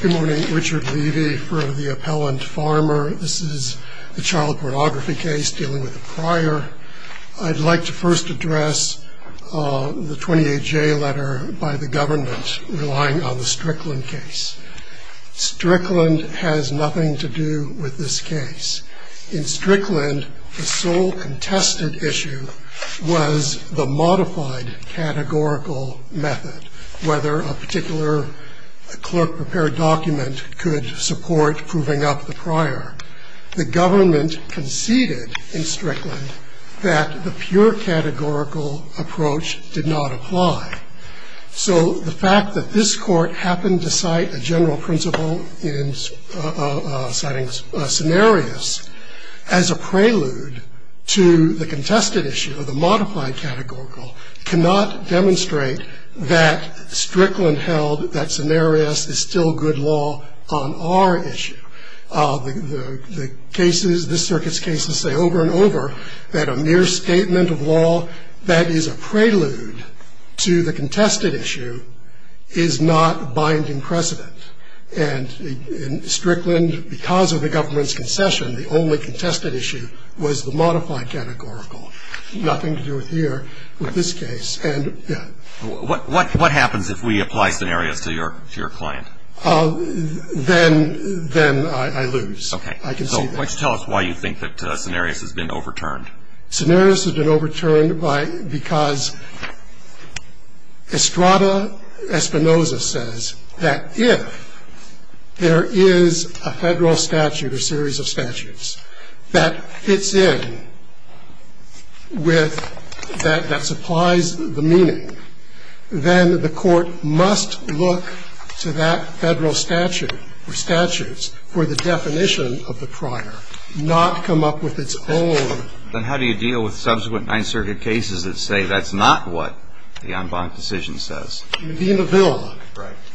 Good morning, Richard Levy for the Appellant Farmer. This is a child pornography case dealing with a prior. I'd like to first address the 28J letter by the government relying on the Strickland case. Strickland has nothing to do with this case. In Strickland, the sole contested issue was the modified categorical method, whether a particular clerk-prepared document could support proving up the prior. The government conceded in Strickland that the pure categorical approach did not apply. So the fact that this Court happened to cite a general principle in citing scenarios as a prelude to the contested issue of the modified categorical cannot demonstrate that Strickland held that scenarios is still good law on our issue. The cases, this circuit's cases, say over and over that a mere statement of law that is a prelude to the contested issue is not binding precedent. And in Strickland, because of the government's concession, the only contested issue was the modified categorical. Nothing to do here with this case. And, yeah. What happens if we apply scenarios to your client? Then I lose. Okay. I can see that. So tell us why you think that scenarios has been overturned. Scenarios has been overturned because Estrada Espinoza says that if there is a Federal statute or series of statutes that fits in with that supplies the meaning, then the Court must look to that Federal statute or statutes for the definition of the prior, not come up with its own. Then how do you deal with subsequent Ninth Circuit cases that say that's not what the en banc decision says? Medina Villa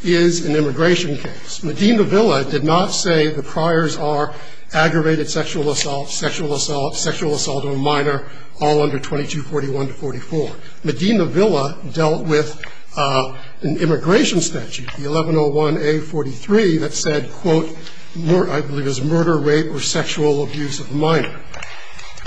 is an immigration case. Medina Villa did not say the priors are aggravated sexual assault, sexual assault, sexual assault of a minor, all under 2241 to 44. Medina Villa dealt with an immigration statute, the 1101A43, that said, quote, I believe it was murder, rape, or sexual abuse of a minor.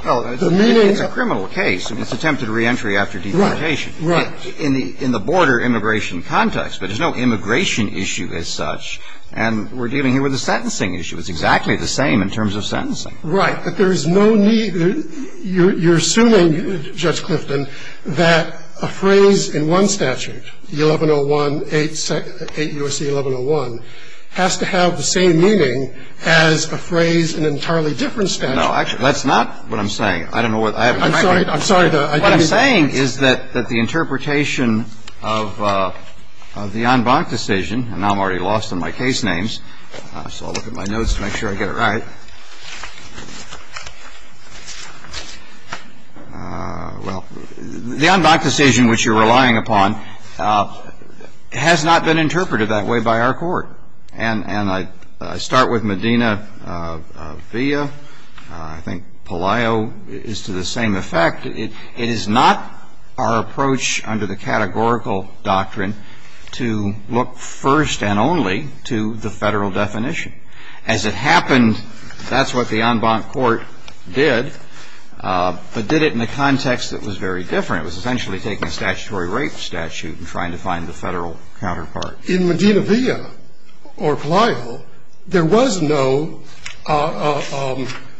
Well, it's a criminal case, and it's attempted reentry after deportation. Right. In the border immigration context. But there's no immigration issue as such, and we're dealing here with a sentencing issue. It's exactly the same in terms of sentencing. Right. But there's no need, you're assuming, Judge Clifton, that a phrase in one statute, the 1101A, 8 U.S.C. 1101, has to have the same meaning as a phrase in an entirely different statute. No, actually, that's not what I'm saying. I don't know what I have in my hand. I'm sorry. What I'm saying is that the interpretation of the en banc decision, and I'm already lost on my case names, so I'll look at my notes to make sure I get it right. Well, the en banc decision, which you're relying upon, has not been interpreted that way by our Court. And I start with Medina via. I think Palaio is to the same effect. It is not our approach under the categorical doctrine to look first and only to the Federal definition. As it happened, that's what the en banc court did, but did it in a context that was very different. It was essentially taking a statutory rape statute and trying to find the Federal counterpart. In Medina via or Palaio, there was no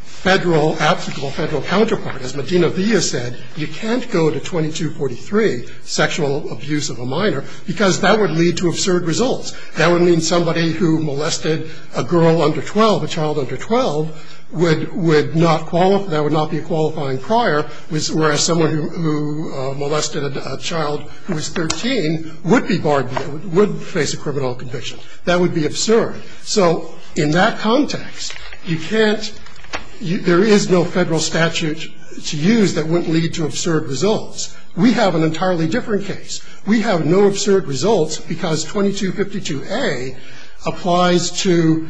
Federal obstacle, Federal counterpart. As Medina via said, you can't go to 2243, sexual abuse of a minor, because that would lead to absurd results. That would mean somebody who molested a girl under 12, a child under 12, would not qualify, that would not be a qualifying prior, whereas someone who molested a child who was 13 would be barred, would face a criminal conviction. That would be absurd. So in that context, you can't, there is no Federal statute to use that wouldn't lead to absurd results. We have an entirely different case. We have no absurd results because 2252A applies to,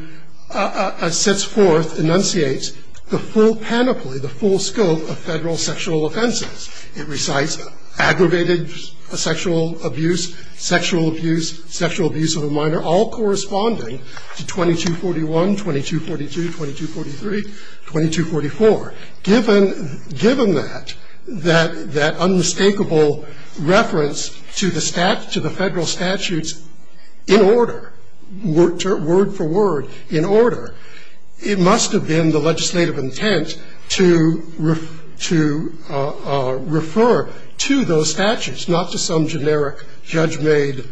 sets forth, enunciates the full panoply, the full scope of Federal sexual offenses. It recites aggravated sexual abuse, sexual abuse, sexual abuse of a minor, all corresponding to 2241, 2242, 2243, 2244. Given that, that unmistakable reference to the Federal statutes in order, word for word, in order, it must have been the legislative intent to refer to those statutes, not to some generic judge-made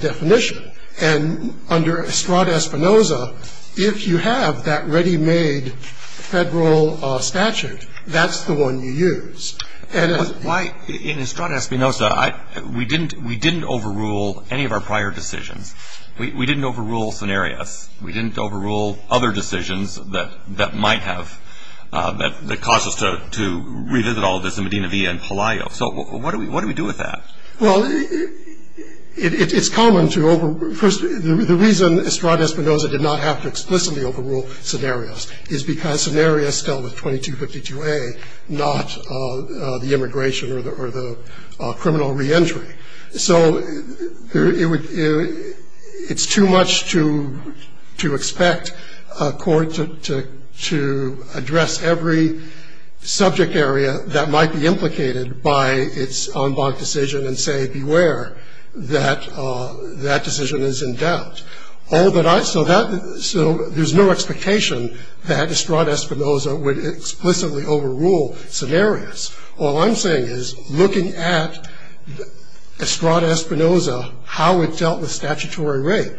definition. And under Estrada-Espinosa, if you have that ready-made Federal statute, that's the one you use. And as why, in Estrada-Espinosa, I, we didn't, we didn't overrule any of our prior decisions. We, we didn't overrule scenarios. We didn't overrule other decisions that, that might have, that, that caused us to, to revisit all of this in Medina Villa and Palaio. So what do we, what do we do with that? Well, it, it, it's common to overrule. First, the reason Estrada-Espinosa did not have to explicitly overrule scenarios is because scenarios dealt with 2252A, not the immigration or the, or the criminal reentry. So it would, it's too much to, to expect a court to, to, to address every subject area that might be implicated by its en banc decision and say, beware, that, that decision is in doubt. All that I, so that, so there's no expectation that Estrada-Espinosa would explicitly overrule scenarios. All I'm saying is, looking at Estrada-Espinosa, how it dealt with statutory rape,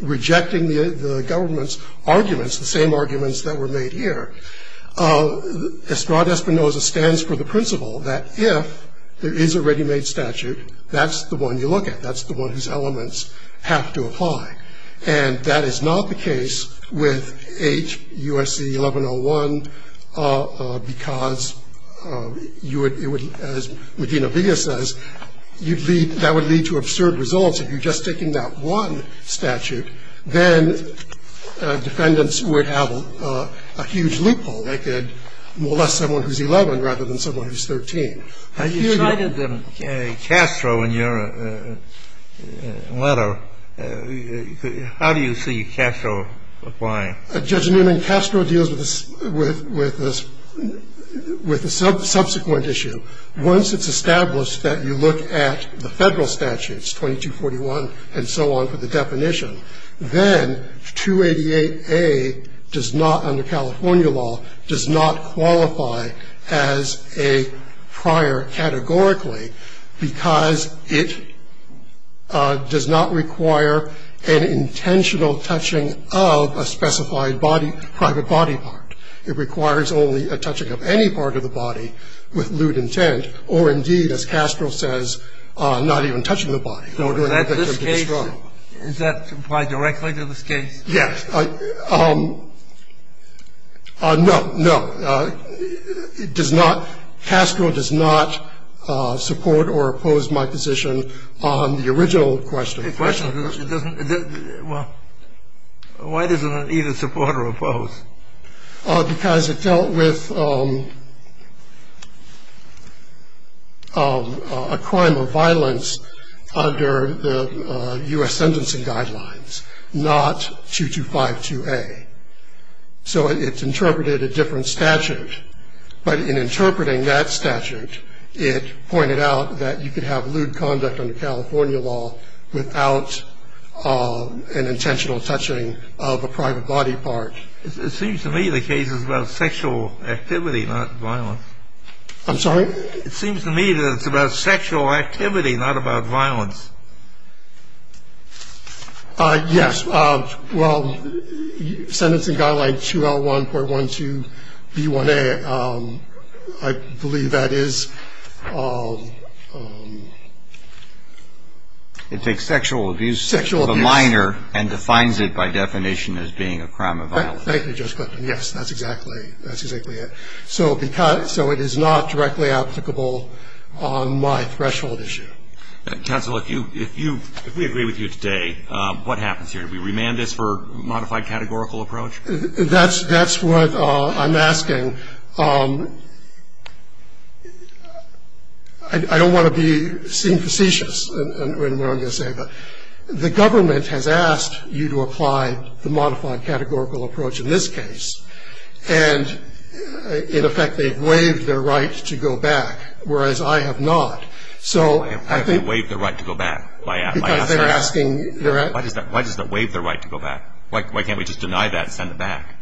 rejecting the, the government's arguments, the same arguments that were made here. Estrada-Espinosa stands for the principle that if there is a ready-made statute, that's the one you look at. That's the one whose elements have to apply. And that is not the case with H. USC 1101 because you would, it would, as Medina Villa says, you'd lead, that would lead to absurd results if you're just taking that one statute. Then defendants would have a huge loophole. They could molest someone who's 11 rather than someone who's 13. I hear you. You cited Castro in your letter. How do you see Castro applying? Judge Newman, Castro deals with, with, with the subsequent issue. Once it's established that you look at the Federal statutes, 2241 and so on for the definition, then 288A does not, under California law, does not qualify as a prior categorically because it does not require an intentional touching of a specified body, private body part. It requires only a touching of any part of the body with lewd intent or, indeed, as Castro says, not even touching the body. You cannot do that in the national state of Sullivan County. from being held In this case, is that applied directly to this case? Yes. No, no. It does not, Castro does not support or oppose my position on the original question. The question, well, why does it need a support or oppose? Because it dealt with a crime of violence under the U.S. sentencing guidelines, not 2252A. So it's interpreted a different statute. But in interpreting that statute, it pointed out that you could have lewd conduct under California law without an intentional touching of a private body part. It seems to me the case is about sexual activity, not violence. I'm sorry? It seems to me that it's about sexual activity, not about violence. Yes. Well, sentencing guideline 2L1.12B1A, I believe that is. It takes sexual abuse of a minor and defines it by definition as being a crime of violence. Thank you, Judge Clifton. Yes, that's exactly it. So it is not directly applicable on my threshold issue. Counsel, if we agree with you today, what happens here? Do we remand this for modified categorical approach? That's what I'm asking. I don't want to seem facetious in what I'm going to say, but the government has asked you to apply the modified categorical approach in this case. And, in effect, they've waived their right to go back, whereas I have not. So I think they're asking. Why does that waive their right to go back? Why can't we just deny that and send it back?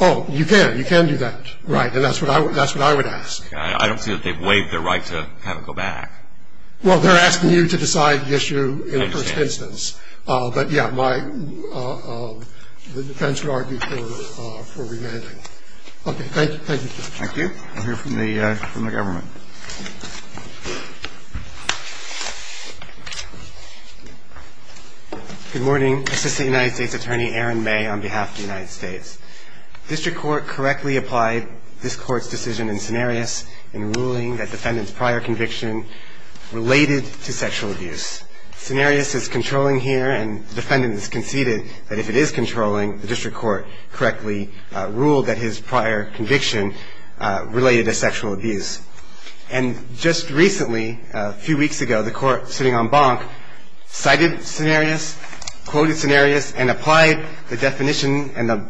Oh, you can. You can do that. Right. And that's what I would ask. I don't see that they've waived their right to have it go back. Well, they're asking you to decide the issue in the first instance. But, yeah, the defense would argue for remanding. Okay. Thank you. Thank you, Judge. Thank you. We'll hear from the government. Good morning. Assistant United States Attorney Aaron May on behalf of the United States. District Court correctly applied this Court's decision in Cenarius in ruling that defendant's prior conviction related to sexual abuse. Cenarius is controlling here, and the defendant has conceded that if it is controlling, the district court correctly ruled that his prior conviction related to sexual abuse. And just recently, a few weeks ago, the Court, sitting on Bonk, cited Cenarius, quoted Cenarius, and applied the definition and the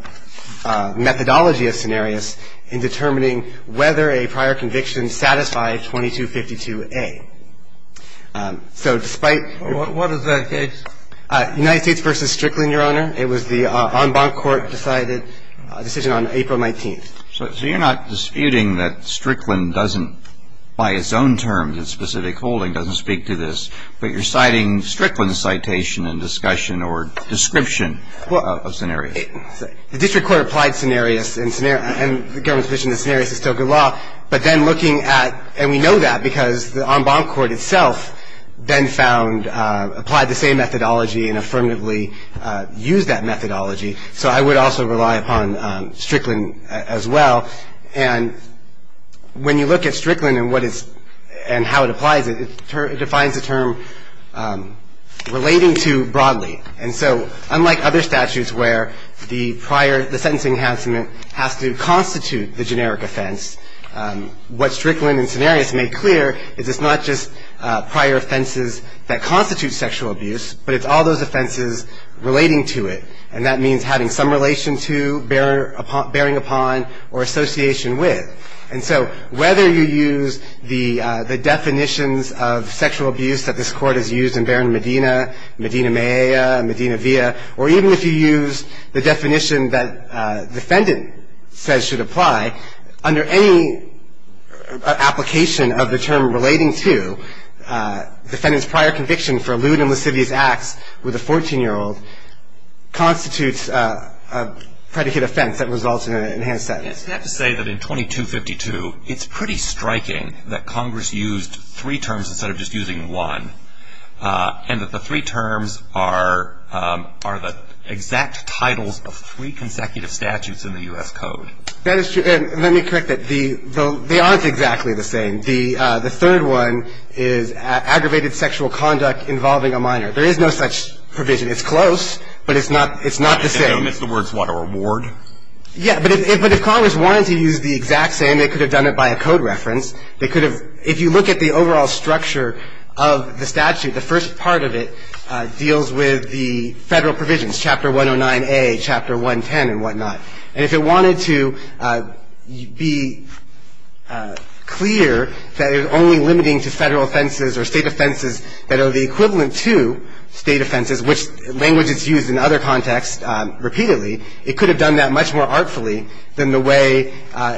methodology of Cenarius in determining whether a prior conviction satisfied 2252A. So, despite the... What is that case? United States v. Strickland, Your Honor. It was the en banc court-decided decision on April 19th. So you're not disputing that Strickland doesn't, by its own terms, its specific holding, doesn't speak to this, but you're citing Strickland's citation and discussion or description of Cenarius. The district court applied Cenarius and the government's position that Cenarius is still good law, but then looking at... And we know that because the en banc court itself then found... Applied the same methodology and affirmatively used that methodology. So I would also rely upon Strickland as well. And when you look at Strickland and what it's... And how it applies it, it defines a term relating to broadly. And so, unlike other statutes where the prior... Has to constitute the generic offense, what Strickland and Cenarius made clear is it's not just prior offenses that constitute sexual abuse, but it's all those offenses relating to it. And that means having some relation to, bearing upon, or association with. And so, whether you use the definitions of sexual abuse that this court has used in Baron Medina, Medina Mea, Medina Via, or even if you use the definition that defendant says should apply, under any application of the term relating to, defendant's prior conviction for lewd and lascivious acts with a 14-year-old constitutes a predicate offense that results in an enhanced sentence. You have to say that in 2252, it's pretty striking that Congress used three terms instead of just using one. And that the three terms are the exact titles of three consecutive statutes in the U.S. Code. That is true. And let me correct that. They aren't exactly the same. The third one is aggravated sexual conduct involving a minor. There is no such provision. It's close, but it's not the same. And then it's the words, what, a reward? Yeah, but if Congress wanted to use the exact same, they could have done it by a code reference. They could have, if you look at the overall structure of the statute, the first part of it deals with the federal provisions, Chapter 109A, Chapter 110, and whatnot. And if it wanted to be clear that it was only limiting to federal offenses or state offenses that are the equivalent to state offenses, which language is used in other contexts repeatedly, it could have done that much more artfully than the way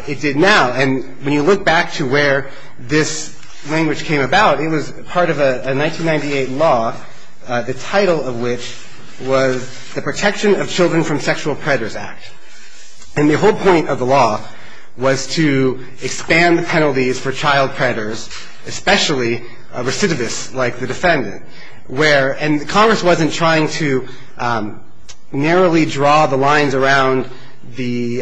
it did now. And when you look back to where this language came about, it was part of a 1998 law, the title of which was the Protection of Children from Sexual Predators Act. And the whole point of the law was to expand the penalties for child predators, especially recidivists like the defendant, where the Congress wasn't trying to narrowly draw the lines around the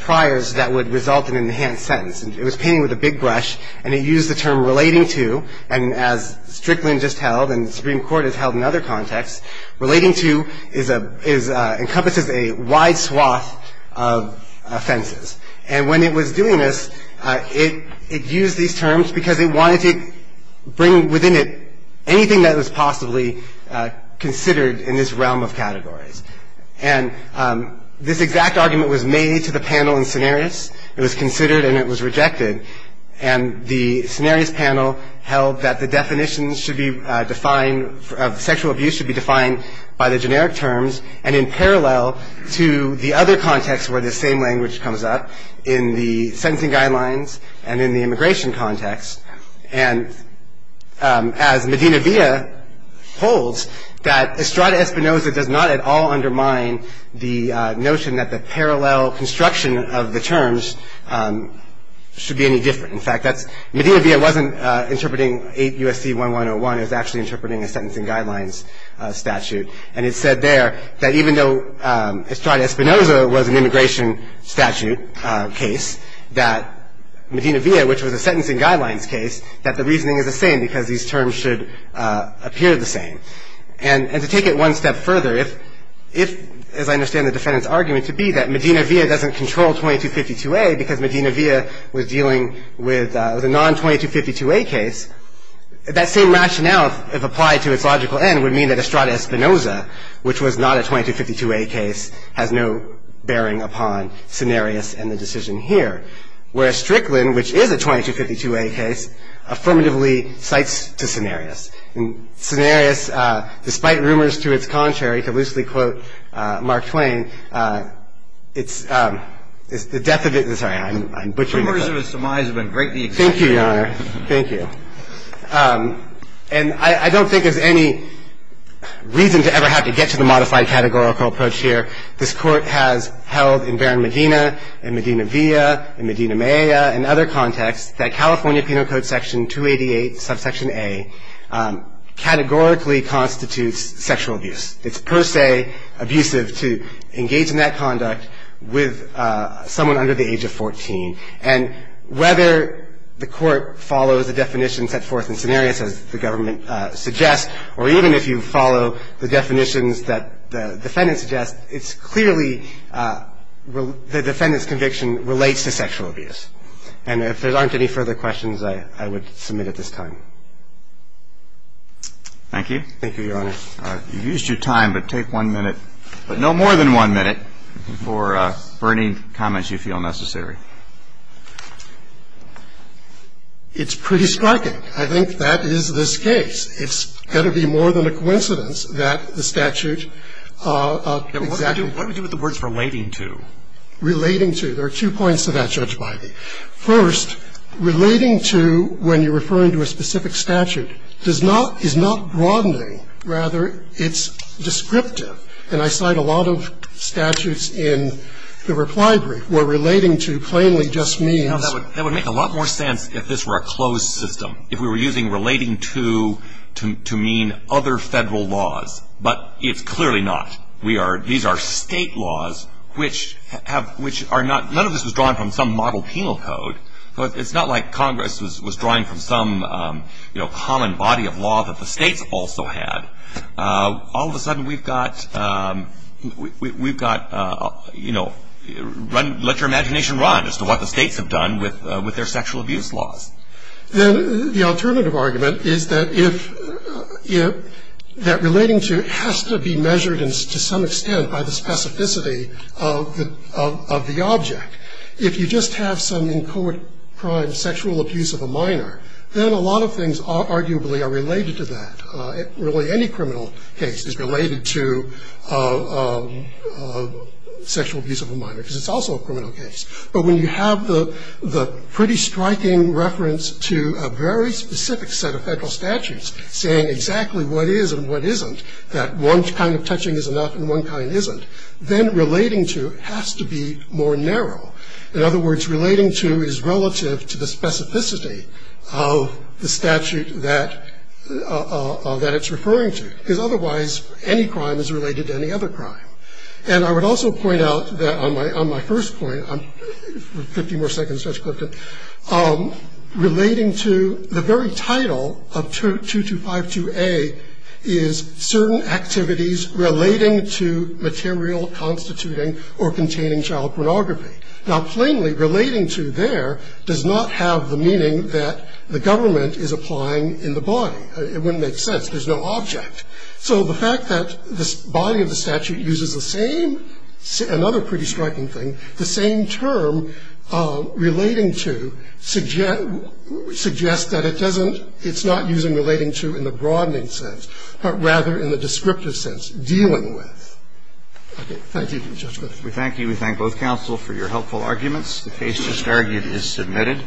priors that would result in an enhanced sentence. It was painted with a big brush, and it used the term relating to, and as Strickland just held and the Supreme Court has held in other contexts, relating to encompasses a wide swath of offenses. And when it was doing this, it used these terms because it wanted to bring within it anything that was possibly considered in this realm of categories. And this exact argument was made to the panel in Cenarius. It was considered, and it was rejected. And the Cenarius panel held that the definitions should be defined, sexual abuse should be defined by the generic terms and in parallel to the other contexts where this same language comes up in the sentencing guidelines and in the immigration context. And as Medina-Villa holds, that Estrada-Espinoza does not at all undermine the notion that the parallel construction of the terms should be any different. In fact, Medina-Villa wasn't interpreting 8 U.S.C. 1101. It was actually interpreting a sentencing guidelines statute. And it said there that even though Estrada-Espinoza was an immigration statute case, that Medina-Villa, which was a sentencing guidelines case, that the reasoning is the same because these terms should appear the same. And to take it one step further, if, as I understand the defendant's argument to be, that Medina-Villa doesn't control 2252A because Medina-Villa was dealing with a non-2252A case, that same rationale, if applied to its logical end, would mean that Estrada-Espinoza, which was not a 2252A case, has no bearing upon Cenarius and the decision here. Whereas Strickland, which is a 2252A case, affirmatively cites to Cenarius. And Cenarius, despite rumors to its contrary, to loosely quote Mark Twain, it's the death of its – sorry, I'm butchering. The rumors of its demise have been greatly exaggerated. Thank you, Your Honor. Thank you. And I don't think there's any reason to ever have to get to the modified categorical approach here. This Court has held in Barron-Medina and Medina-Villa and Medina-Meya and other contexts that California Penal Code Section 288, subsection A, categorically constitutes sexual abuse. It's per se abusive to engage in that conduct with someone under the age of 14. And whether the Court follows the definitions set forth in Cenarius, as the government suggests, or even if you follow the definitions that the defendant suggests, it's clearly the defendant's conviction relates to sexual abuse. And if there aren't any further questions, I would submit at this time. Thank you. Thank you, Your Honor. You've used your time, but take one minute, but no more than one minute, for any comments you feel necessary. It's pretty striking. I think that is this case. It's got to be more than a coincidence that the statute exactly – What do we do with the words relating to? Relating to. There are two points to that, Judge Bidey. First, relating to, when you're referring to a specific statute, does not – is not broadening. Rather, it's descriptive. And I cite a lot of statutes in the reply brief where relating to plainly just means That would make a lot more sense if this were a closed system, if we were using relating to to mean other Federal laws. But it's clearly not. We are – these are State laws, which have – which are not – none of this was drawn from some model penal code. So it's not like Congress was drawing from some, you know, common body of law that the States also had. All of a sudden, we've got – we've got, you know, let your imagination run as to what the States have done with their sexual abuse laws. Then the alternative argument is that if – that relating to has to be measured to some extent by the specificity of the object. If you just have some in court crime sexual abuse of a minor, then a lot of things arguably are related to that. Really, any criminal case is related to sexual abuse of a minor, because it's also a criminal case. But when you have the pretty striking reference to a very specific set of Federal statutes saying exactly what is and what isn't, that one kind of touching is enough and one kind isn't, then relating to has to be more narrow. In other words, relating to is relative to the specificity of the statute that it's referring to. Because otherwise, any crime is related to any other crime. And I would also point out that on my first point – 50 more seconds, Judge Clifton – relating to the very title of 2252A is certain activities relating to material constituting or containing child pornography. Now, plainly, relating to there does not have the meaning that the government is applying in the body. It wouldn't make sense. There's no object. So the fact that this body of the statute uses the same – another pretty striking thing – the same term, relating to, suggests that it doesn't – it's not using relating to in the broadening sense, but rather in the descriptive sense, dealing with. Okay. Thank you, Judge Clifton. We thank you. We thank both counsel for your helpful arguments. The case just argued is submitted.